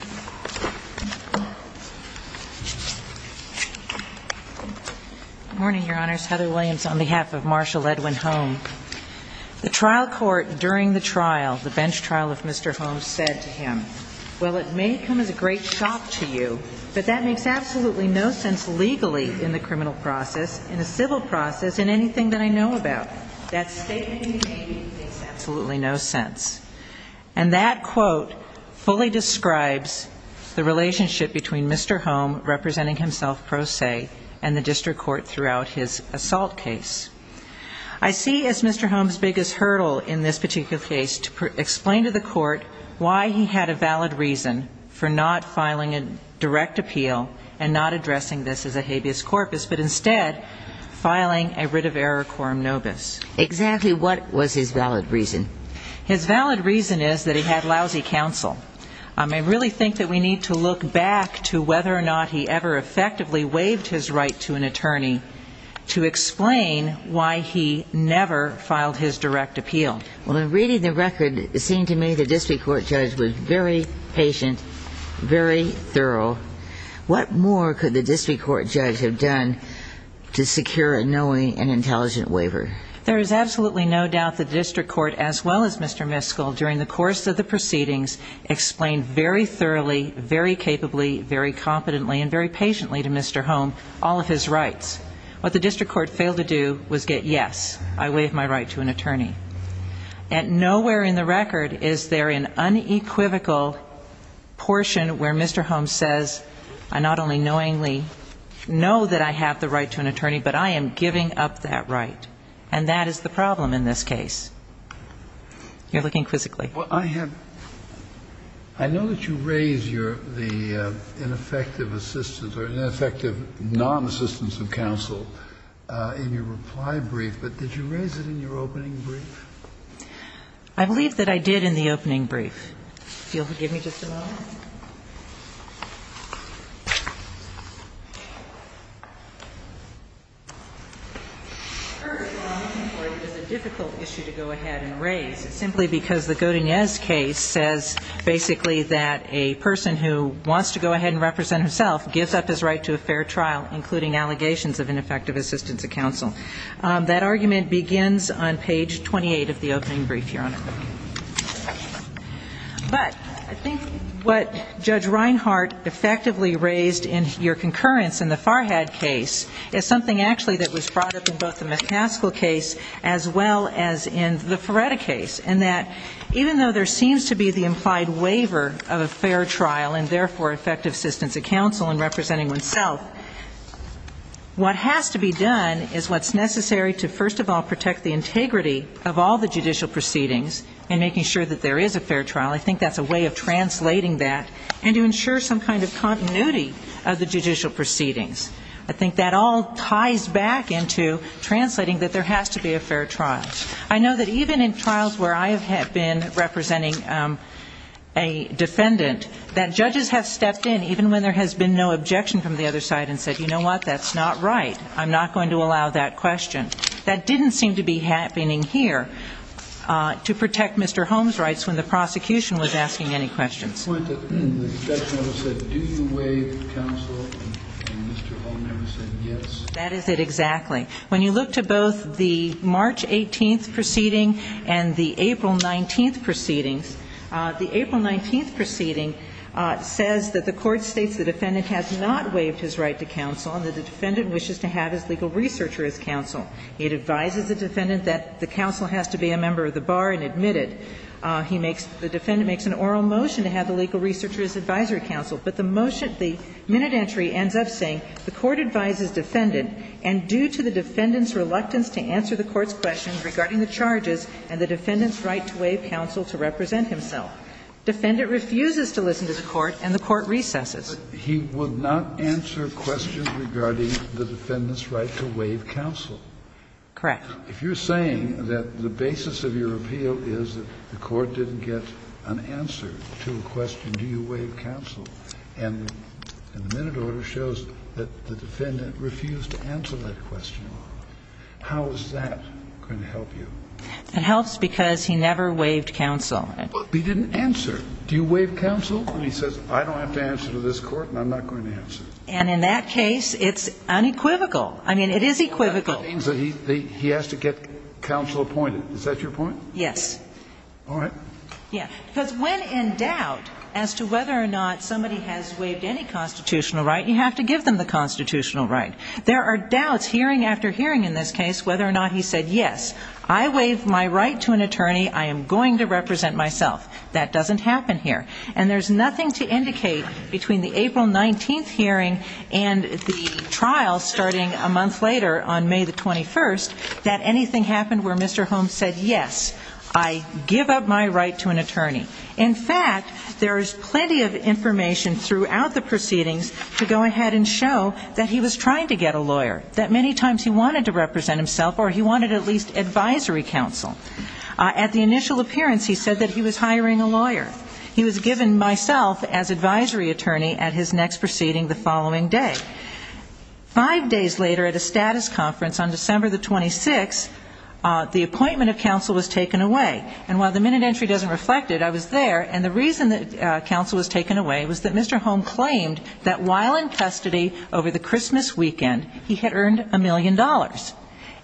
The trial court during the trial, the bench trial of Mr. Holmes, said to him, well, it may come as a great shock to you, but that makes absolutely no sense legally in the criminal process, in a civil process, in anything that I know about. That statement in the A.D. makes absolutely no sense. And that quote fully describes the relationship between Mr. Home, representing himself pro se, and the district court throughout his assault case. I see as Mr. Holmes' biggest hurdle in this particular case to explain to the court why he had a valid reason for not filing a direct appeal and not addressing this as a habeas corpus, but instead filing a writ of error quorum nobis. Exactly what was his valid reason? His valid reason is that he had lousy counsel. I really think that we need to look back to whether or not he ever effectively waived his right to an attorney to explain why he never filed his direct appeal. Well, in reading the record, it seemed to me the district court judge was very patient, very thorough. What more could the district court judge have done to secure a knowing and intelligent waiver? There is absolutely no doubt the district court, as well as Mr. Miskell, during the course of the proceedings, explained very thoroughly, very capably, very competently and very patiently to Mr. Home all of his rights. What the district court failed to do was get yes, I waive my right to an attorney. Nowhere in the record is there an unequivocal portion where Mr. Holmes says, I not only knowingly know that I have the right to an attorney, but I am giving up that right. And that is the problem in this case. You're looking quizzically. Well, I have – I know that you raise your – the ineffective assistance or ineffective non-assistance of counsel in your reply brief, but did you raise it in your opening brief? I believe that I did in the opening brief. If you'll give me just a moment. First of all, I'm looking forward to the difficult issue to go ahead and raise, simply because the Godinez case says basically that a person who wants to go ahead and represent himself gives up his right to a fair trial, including allegations of ineffective assistance of counsel. That argument begins on page 28 of the opening brief, Your Honor. But I think what Judge Reinhart effectively raised in your concurrence in the Farhad case is something actually that was brought up in both the McCaskill case as well as in the Feretta case, in that even though there seems to be the implied waiver of a fair trial and therefore effective assistance of counsel in representing oneself, what has to be done is what's necessary to first of all protect the integrity of all the judicial proceedings and making sure that there is a fair trial. I think that's a way of translating that and to ensure some kind of continuity of the judicial proceedings. I think that all ties back into translating that there has to be a fair trial. I know that even in trials where I have been representing a defendant, that judges have stepped in, even when there has been no objection from the other side and said, you know what, that's not right. I'm not going to allow that question. That didn't seem to be happening here to protect Mr. Holmes' rights when the prosecution was asking any questions. The objection was that do you waive counsel and Mr. Holmes never said yes? That is it exactly. When you look to both the March 18th proceeding and the April 19th proceedings, the April 19th proceeding says that the court states the defendant has not waived his right to counsel and that the defendant wishes to have his legal researcher as counsel. It advises the defendant that the counsel has to be a member of the bar and admit it. The defendant makes an oral motion to have the legal researcher as advisory counsel, but the motion, the minute entry ends up saying the court advises the defendant and due to the defendant's reluctance to answer the court's questions regarding the charges and the defendant's right to waive counsel to represent himself, defendant refuses to listen to the court and the court recesses. Kennedy. He would not answer questions regarding the defendant's right to waive counsel. Correct. If you're saying that the basis of your appeal is that the court didn't get an answer to a question, do you waive counsel, and the minute order shows that the defendant refused to answer that question, how is that going to help you? It helps because he never waived counsel. But he didn't answer. Do you waive counsel? And he says, I don't have to answer to this court and I'm not going to answer. And in that case, it's unequivocal. I mean, it is equivocal. That means that he has to get counsel appointed. Is that your point? Yes. All right. Yeah. Because when in doubt as to whether or not somebody has waived any constitutional right, you have to give them the constitutional right. There are doubts hearing after hearing in this case whether or not he said, yes, I waive my right to an attorney. I am going to represent myself. That doesn't happen here. And there's nothing to indicate between the April 19th hearing and the trial starting a month later on May the 21st that anything happened where Mr. Holmes said, yes, I give up my right to an attorney. In fact, there is plenty of information throughout the proceedings to go ahead and show that he was trying to get a lawyer, that many times he wanted to represent himself or he wanted at least advisory counsel. At the initial appearance, he said that he was hiring a lawyer. He was given myself as advisory attorney at his next proceeding the following day. Five days later at a status conference on December the 26th, the appointment of counsel was taken away. And while the minute entry doesn't reflect it, I was there. And the reason that counsel was taken away was that Mr. Holmes claimed that while in custody over the Christmas weekend, he had earned a million dollars.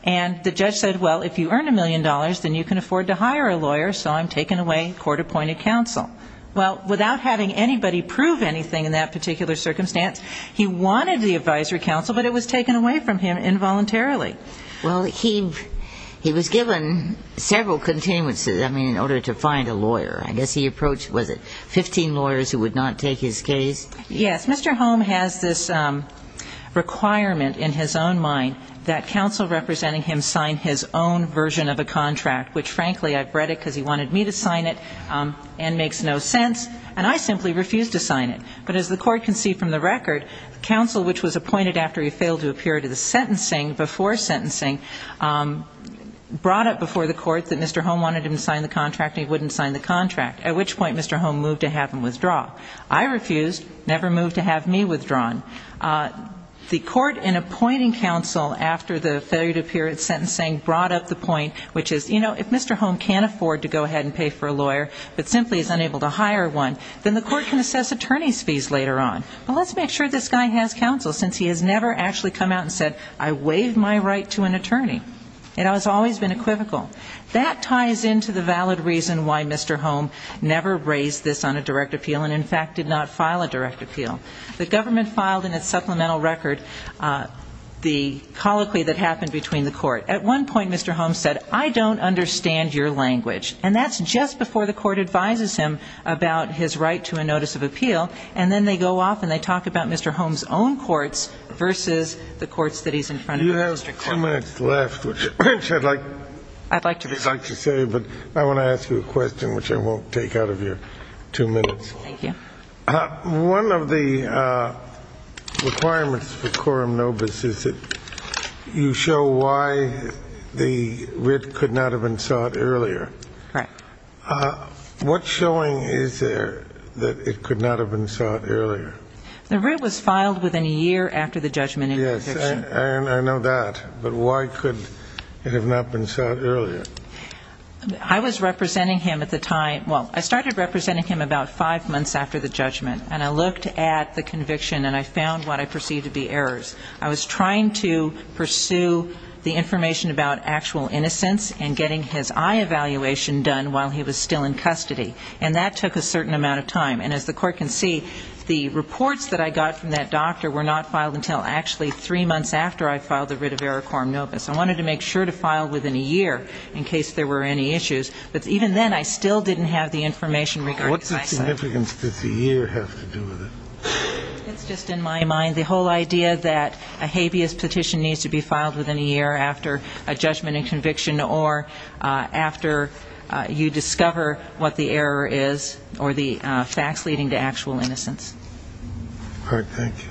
And the judge said, well, if you earn a million dollars, then you can afford to hire a lawyer, so I'm taking away court-appointed counsel. Well, without having anybody prove anything in that particular circumstance, he wanted the advisory counsel, but it was taken away from him involuntarily. Well, he was given several continuances, I mean, in order to find a lawyer. I guess he approached, was it 15 lawyers who would not take his case? Yes. Mr. Holmes has this requirement in his own mind that counsel representing him sign his own version of a contract, which frankly, I've read it because he wanted me to sign it and makes no sense. And I simply refused to sign it. But as the court can see from the record, counsel which was appointed after he failed to appear to the sentencing before sentencing brought up before the court that Mr. Holmes wanted him to sign the contract and he wouldn't sign the contract, at which point Mr. Holmes moved to have him withdraw. I refused, never moved to have me withdrawn. The court in appointing counsel after the failure to appear at sentencing brought up the point which is, you know, if Mr. Holmes can't afford to go ahead and pay for a lawyer, but simply is unable to hire one, then the court can assess attorney's fees later on. But let's make sure this guy has counsel, since he has never actually come out and said, I waive my right to an attorney. It has always been equivocal. That ties into the valid reason why Mr. Holmes never raised this on a direct appeal and in fact did not file a direct appeal. The government filed in its supplemental record the colloquy that happened between the court. At one point, Mr. Holmes said, I don't understand your language. And that's just before the court advises him about his right to a notice of appeal. And then they go off and they talk about Mr. Holmes' own courts versus the courts that he's in front of the district court. You have two minutes left, which I'd like to say, but I want to ask you a question, which I won't take out of your two minutes. Thank you. One of the requirements for quorum nobis is that you show why the writ could not have been sought earlier. Correct. What showing is there that it could not have been sought earlier? The writ was filed within a year after the judgment in your conviction. Yes, I know that. But why could it have not been sought earlier? I was representing him at the time, well, I started representing him about five months after the judgment. And I looked at the conviction and I found what I perceived to be errors. I was trying to pursue the information about actual innocence and getting his eye evaluation done while he was still in custody. And that took a certain amount of time. And as the court can see, the reports that I got from that doctor were not filed until actually three months after I filed the writ of error quorum nobis. I wanted to make sure to file within a year in case there were any issues. But even then, I still didn't have the information regarding the eyesight. What significance does a year have to do with it? It's just in my mind the whole idea that a habeas petition needs to be filed within a year after a judgment and conviction or after you discover what the error is or the facts leading to actual innocence. All right. Thank you.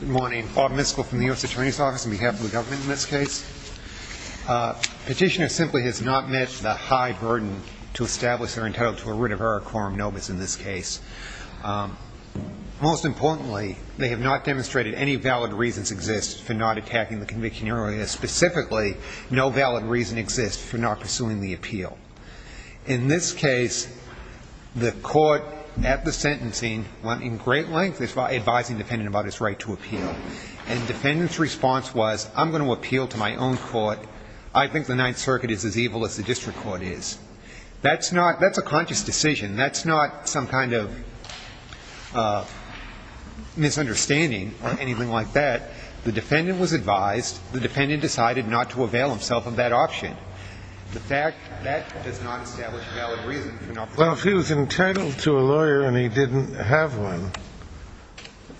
Good morning. Bob Miskel from the U.S. Attorney's Office on behalf of the government in this case. Petitioner simply has not met the high burden to establish their entitlement to a writ of error quorum nobis in this case. Most importantly, they have not demonstrated any valid reasons exist for not attacking no valid reason exist for not pursuing the appeal. In this case, the court at the sentencing went in great length advising the defendant about his right to appeal. And the defendant's response was, I'm going to appeal to my own court. I think the Ninth Circuit is as evil as the district court is. That's a conscious decision. That's not some kind of misunderstanding or anything like that. The defendant was advised. The defendant decided not to avail himself of that option. That does not establish a valid reason for not pursuing the appeal. Well, if he was entitled to a lawyer and he didn't have one,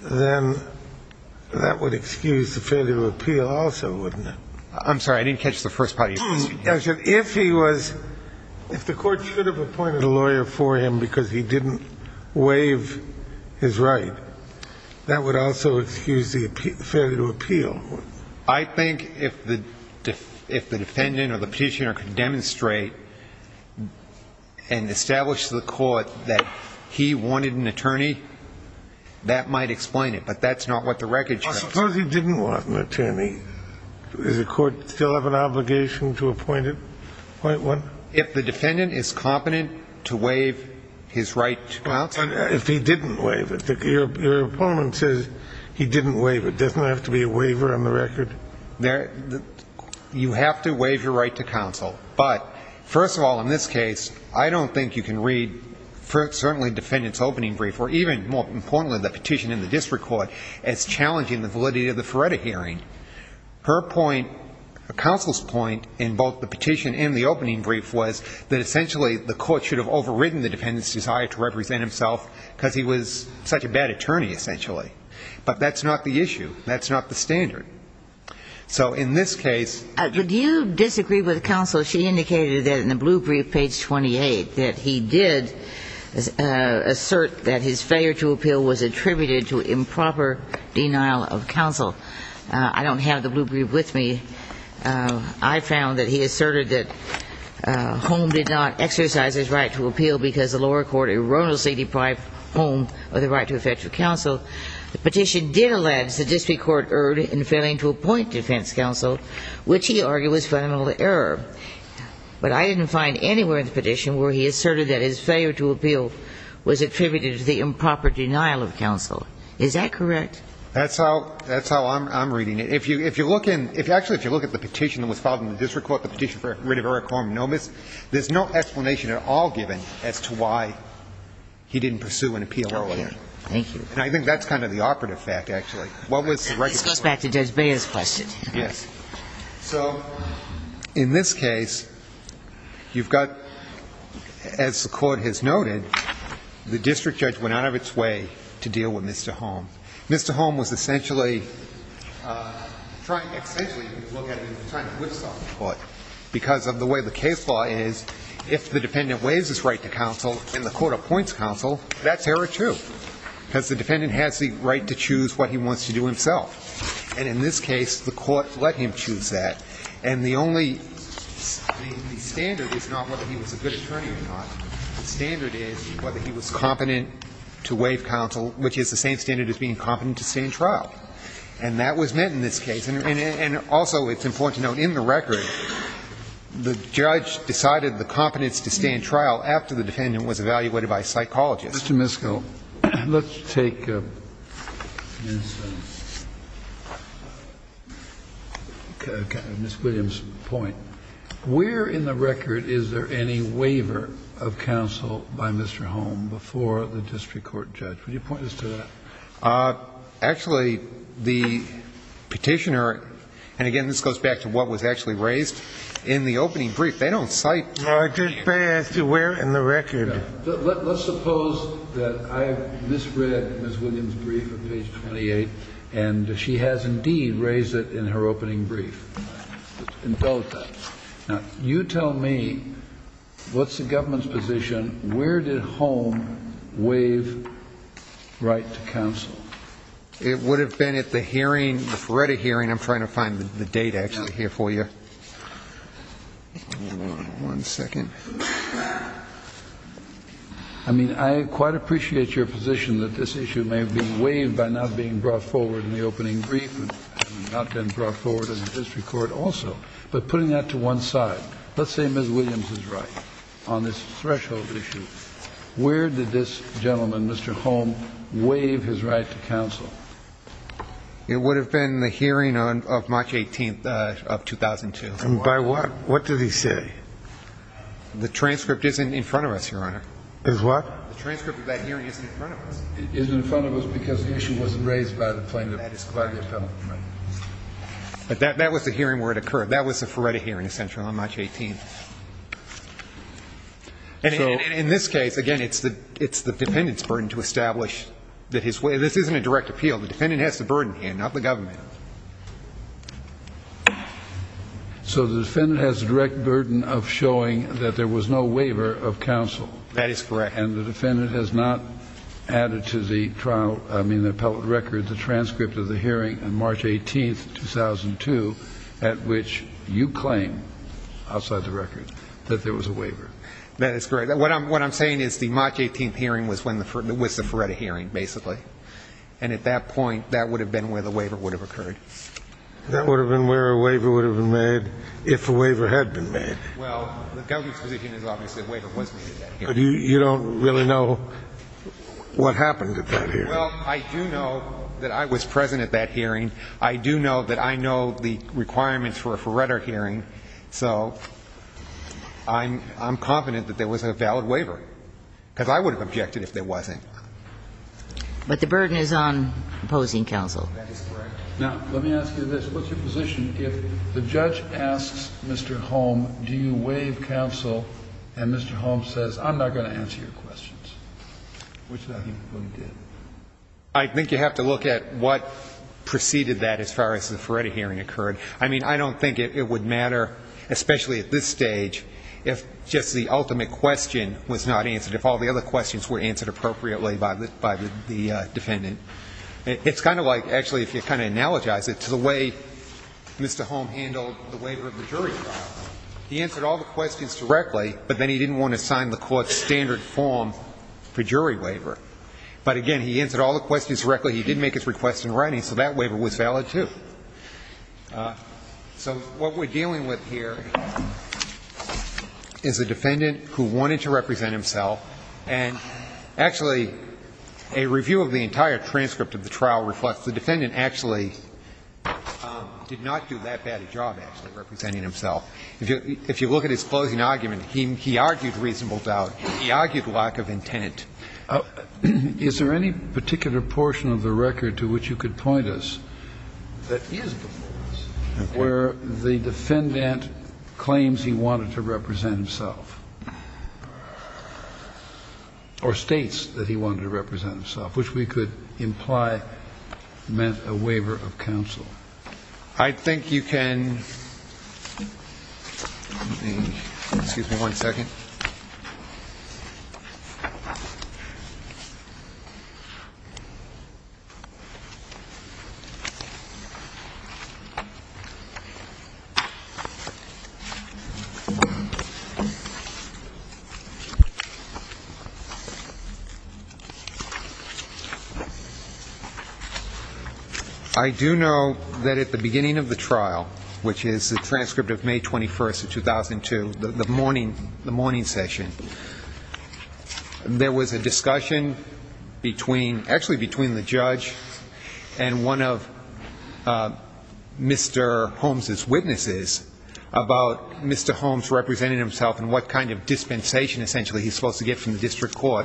then that would excuse the failure to appeal also, wouldn't it? I'm sorry. I didn't catch the first part of your question. I said if he was – if the court should have appointed a lawyer for him because he didn't waive his right, that would also excuse the failure to appeal. I think if the defendant or the petitioner could demonstrate and establish to the court that he wanted an attorney, that might explain it. But that's not what the record shows. Suppose he didn't want an attorney. Does the court still have an obligation to appoint one? If the defendant is competent to waive his right to counsel. If he didn't waive it. Your opponent says he didn't waive it. Doesn't it have to be a waiver on the record? You have to waive your right to counsel. But first of all, in this case, I don't think you can read certainly the defendant's opening brief or even more importantly the petition in the district court as challenging the validity of the Feretta hearing. Her point, counsel's point in both the petition and the opening brief was that essentially the court should have overridden the defendant's desire to represent himself because he was such a bad attorney essentially. But that's not the issue. That's not the standard. So in this case. Do you disagree with counsel? She indicated that in the blue brief page 28 that he did assert that his failure to appeal was attributed to improper denial of counsel. I don't have the blue brief with me. I found that he asserted that Holm did not exercise his right to appeal because the lower court erroneously deprived Holm of the right to effective counsel. The petition did allege the district court erred in failing to appoint defense counsel, which he argued was fundamental error. But I didn't find anywhere in the petition where he asserted that his failure to appeal was attributed to the improper denial of counsel. Is that correct? That's how – that's how I'm reading it. If you – if you look in – actually, if you look at the petition that was filed in the district court, the petition for rid of error quorum nomis, there's no explanation at all given as to why he didn't pursue an appeal earlier. Thank you. And I think that's kind of the operative fact, actually. What was the right of way? This goes back to Judge Beyer's question. Yes. So in this case, you've got, as the Court has noted, the district judge went out of its way to deal with Mr. Holm. Mr. Holm was essentially trying – essentially, if you look at it, trying to whipsaw the Court, because of the way the case law is, if the dependent waives his right to counsel and the court appoints counsel, that's error, too. Because the defendant has the right to choose what he wants to do himself. And in this case, the court let him choose that. And the only – the standard is not whether he was a good attorney or not. The standard is whether he was competent to waive counsel, which is the same standard as being competent to stand trial. And that was met in this case. And also, it's important to note, in the record, the judge decided the competence to stand trial after the defendant was evaluated by a psychologist. Kennedy, I think you're up next, to Ms. Go. Let's take Ms. Williams' point. Where in the record is there any waiver of counsel by Mr. Holm before the district court judge? Would you point us to that? Actually, the Petitioner, and again, this goes back to what was actually raised in the opening brief. They don't cite— No, I did pass it. Where in the record? Let's suppose that I misread Ms. Williams' brief on page 28, and she has indeed raised it in her opening brief, in both. Now, you tell me, what's the government's position? Where did Holm waive right to counsel? It would have been at the hearing, the Feretta hearing. I'm trying to find the date, actually, here for you. One second. I mean, I quite appreciate your position that this issue may have been waived by not being brought forward in the opening brief, and not been brought forward in the district court also. But putting that to one side, let's say Ms. Williams is right on this threshold issue. Where did this gentleman, Mr. Holm, waive his right to counsel? It would have been the hearing of March 18th of 2002. And by what? What did he say? The transcript isn't in front of us, Your Honor. Is what? The transcript of that hearing isn't in front of us. It isn't in front of us because the issue wasn't raised by the plaintiff. By the appellant. Right. But that was the hearing where it occurred. That was the Feretta hearing, essentially, on March 18th. And in this case, again, it's the dependent's burden to establish that his—this isn't a direct appeal. The defendant has the burden here, not the government. So the defendant has the direct burden of showing that there was no waiver of counsel. That is correct. And the defendant has not added to the trial—I mean, the appellate record, the transcript of the hearing on March 18th, 2002, at which you claim, outside the record, that there was a waiver. That is correct. What I'm saying is the March 18th hearing was the Feretta hearing, basically. And at that point, that would have been where the waiver would have occurred. That would have been where a waiver would have been made if a waiver had been made. Well, the government's position is obviously a waiver was made at that hearing. But you don't really know what happened at that hearing. Well, I do know that I was present at that hearing. I do know that I know the requirements for a Feretta hearing. So I'm confident that there was a valid waiver, because I would have objected if there wasn't. But the burden is on opposing counsel. That is correct. Now, let me ask you this. What's your position if the judge asks Mr. Holm, do you waive counsel, and Mr. Holm says, I'm not going to answer your questions, which I think he probably did? I think you have to look at what preceded that as far as the Feretta hearing occurred. I mean, I don't think it would matter, especially at this stage, if just the ultimate question was not answered. If all the other questions were answered appropriately by the defendant. It's kind of like, actually, if you kind of analogize it to the way Mr. Holm handled the waiver of the jury trial. He answered all the questions directly, but then he didn't want to sign the court's standard form for jury waiver. But, again, he answered all the questions directly. He did make his request in writing, so that waiver was valid, too. So what we're dealing with here is a defendant who wanted to represent himself. And, actually, a review of the entire transcript of the trial reflects the defendant actually did not do that bad a job, actually, representing himself. If you look at his closing argument, he argued reasonable doubt. He argued lack of intent. Is there any particular portion of the record to which you could point us that is the defendant claims he wanted to represent himself or states that he wanted to represent himself, which we could imply meant a waiver of counsel? I think you can ‑‑ excuse me one second. I do know that at the beginning of the trial, which is the transcript of May 21, 2002, the morning session, there was a discussion between, actually between the judge and one of Mr. Holmes' witnesses about Mr. Holmes representing himself and what kind of dispensation essentially he's supposed to get from the district court.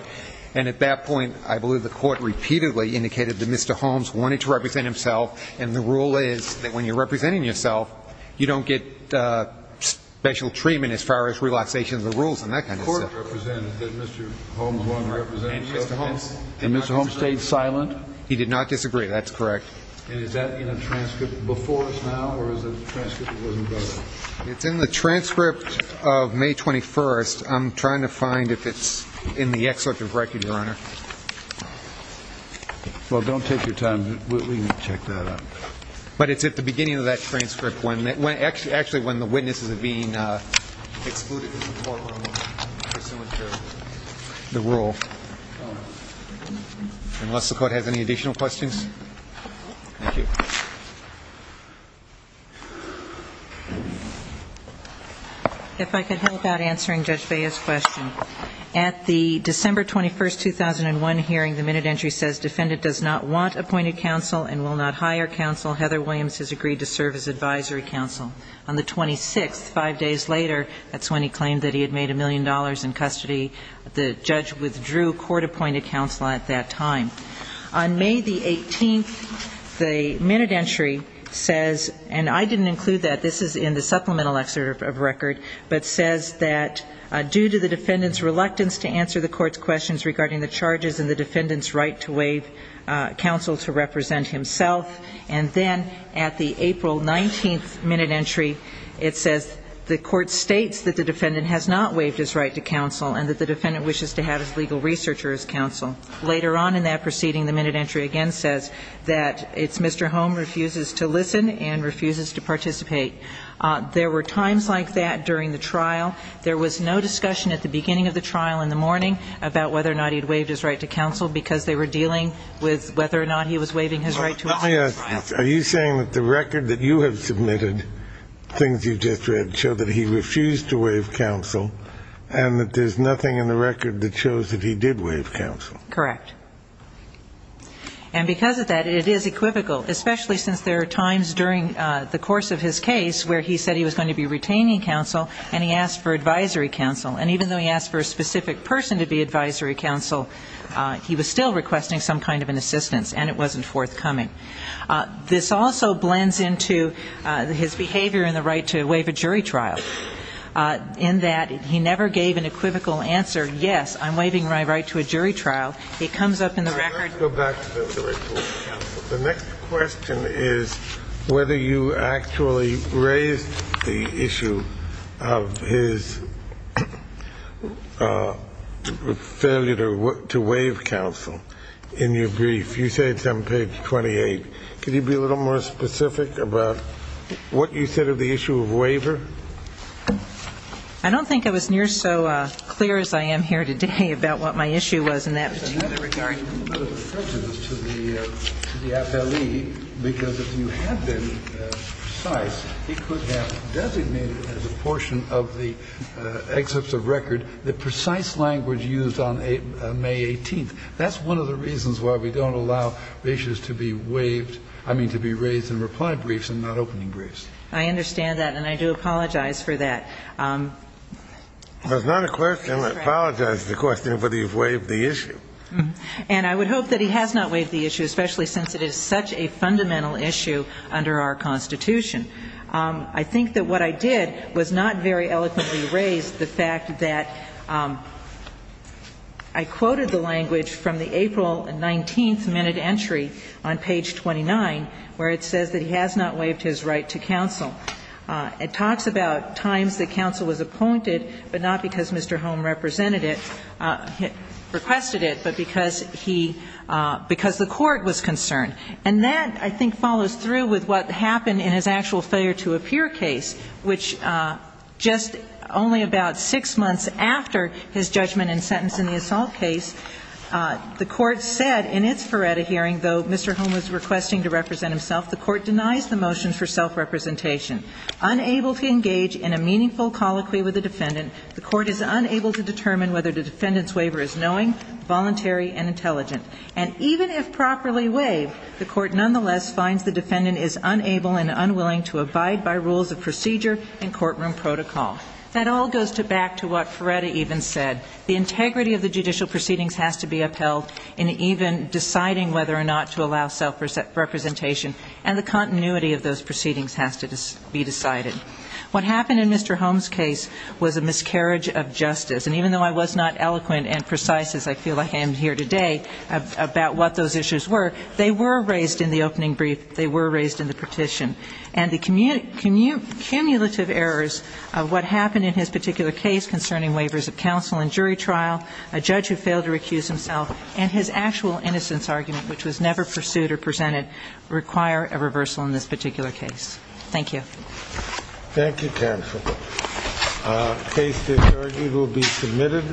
And at that point, I believe the court repeatedly indicated that Mr. Holmes wanted to represent himself, and the rule is that when you're representing yourself, you don't get special treatment as far as relaxation of the rules and that kind of stuff. The court represented that Mr. Holmes wanted to represent himself. And Mr. Holmes stayed silent? He did not disagree. That's correct. And is that in a transcript before us now, or is it a transcript that wasn't brought up? It's in the transcript of May 21. I'm trying to find if it's in the excerpt of the record, Your Honor. Well, don't take your time. We can check that out. But it's at the beginning of that transcript, actually when the witnesses are being excluded from the courtroom for some of the rule. Unless the court has any additional questions. Thank you. If I could help out answering Judge Baez's question. At the December 21, 2001 hearing, the minute entry says defendant does not want appointed counsel and will not hire counsel. Heather Williams has agreed to serve as advisory counsel. On the 26th, five days later, that's when he claimed that he had made a million dollars in custody. The judge withdrew court-appointed counsel at that time. On May the 18th, the minute entry says, and I didn't include that. This is in the supplemental excerpt of record, but says that due to the defendant's reluctance to answer the court's questions regarding the charges and the defendant's right to waive counsel to represent himself. And then at the April 19th minute entry, it says the court states that the defendant has not waived his right to counsel and that the defendant wishes to have his legal researcher as counsel. Later on in that proceeding, the minute entry again says that it's Mr. Holm refuses to listen and refuses to participate. There were times like that during the trial. There was no discussion at the beginning of the trial in the morning about whether or not he had waived his right to counsel because they were dealing with whether or not he was waiving his right to counsel. Are you saying that the record that you have submitted, things you've just read, show that he refused to waive counsel and that there's nothing in the record that shows that he did waive counsel? Correct. And because of that, it is equivocal, especially since there are times during the course of his case where he said he was going to be retaining counsel and he asked for advisory counsel. And even though he asked for a specific person to be advisory counsel, he was still requesting some kind of an assistance and it wasn't forthcoming. This also blends into his behavior in the right to waive a jury trial, in that he never gave an equivocal answer, yes, I'm waiving my right to a jury trial. It comes up in the record. The next question is whether you actually raised the issue of his failure to waive counsel in your brief. You say it's on page 28. Could you be a little more specific about what you said of the issue of waiver? I don't think I was near so clear as I am here today about what my issue was in that particular regard. I'm a little bit of a prejudice to the FLE, because if you had been precise, he could have designated as a portion of the excerpts of record the precise language used on May 18th. That's one of the reasons why we don't allow issues to be waived, I mean, to be raised in reply briefs and not opening briefs. I understand that, and I do apologize for that. That's not a question. I apologize for the question of whether you've waived the issue. And I would hope that he has not waived the issue, especially since it is such a fundamental issue under our Constitution. I think that what I did was not very eloquently raise the fact that I quoted the language from the April 19th minute entry on page 29, where it says that he has not waived his right to counsel. It talks about times that counsel was appointed, but not because Mr. Holm represented it, requested it, but because he – because the court was concerned. And that, I think, follows through with what happened in his actual failure-to-appear case, which just only about six months after his judgment and sentence in the assault case, the court said in its Feretta hearing, though Mr. Holm was requesting to represent Unable to engage in a meaningful colloquy with the defendant, the court is unable to determine whether the defendant's waiver is knowing, voluntary, and intelligent. And even if properly waived, the court nonetheless finds the defendant is unable and unwilling to abide by rules of procedure and courtroom protocol. That all goes back to what Feretta even said. The integrity of the judicial proceedings has to be upheld in even deciding whether or not to allow self-representation, and the continuity of those proceedings has to be decided. What happened in Mr. Holm's case was a miscarriage of justice. And even though I was not eloquent and precise, as I feel like I am here today, about what those issues were, they were raised in the opening brief, they were raised in the petition. And the cumulative errors of what happened in his particular case concerning waivers of counsel in jury trial, a judge who failed to recuse himself, and his actual innocence argument, which was never pursued or presented, require a reversal in this particular case. Thank you. Thank you, counsel. Case discharging will be submitted.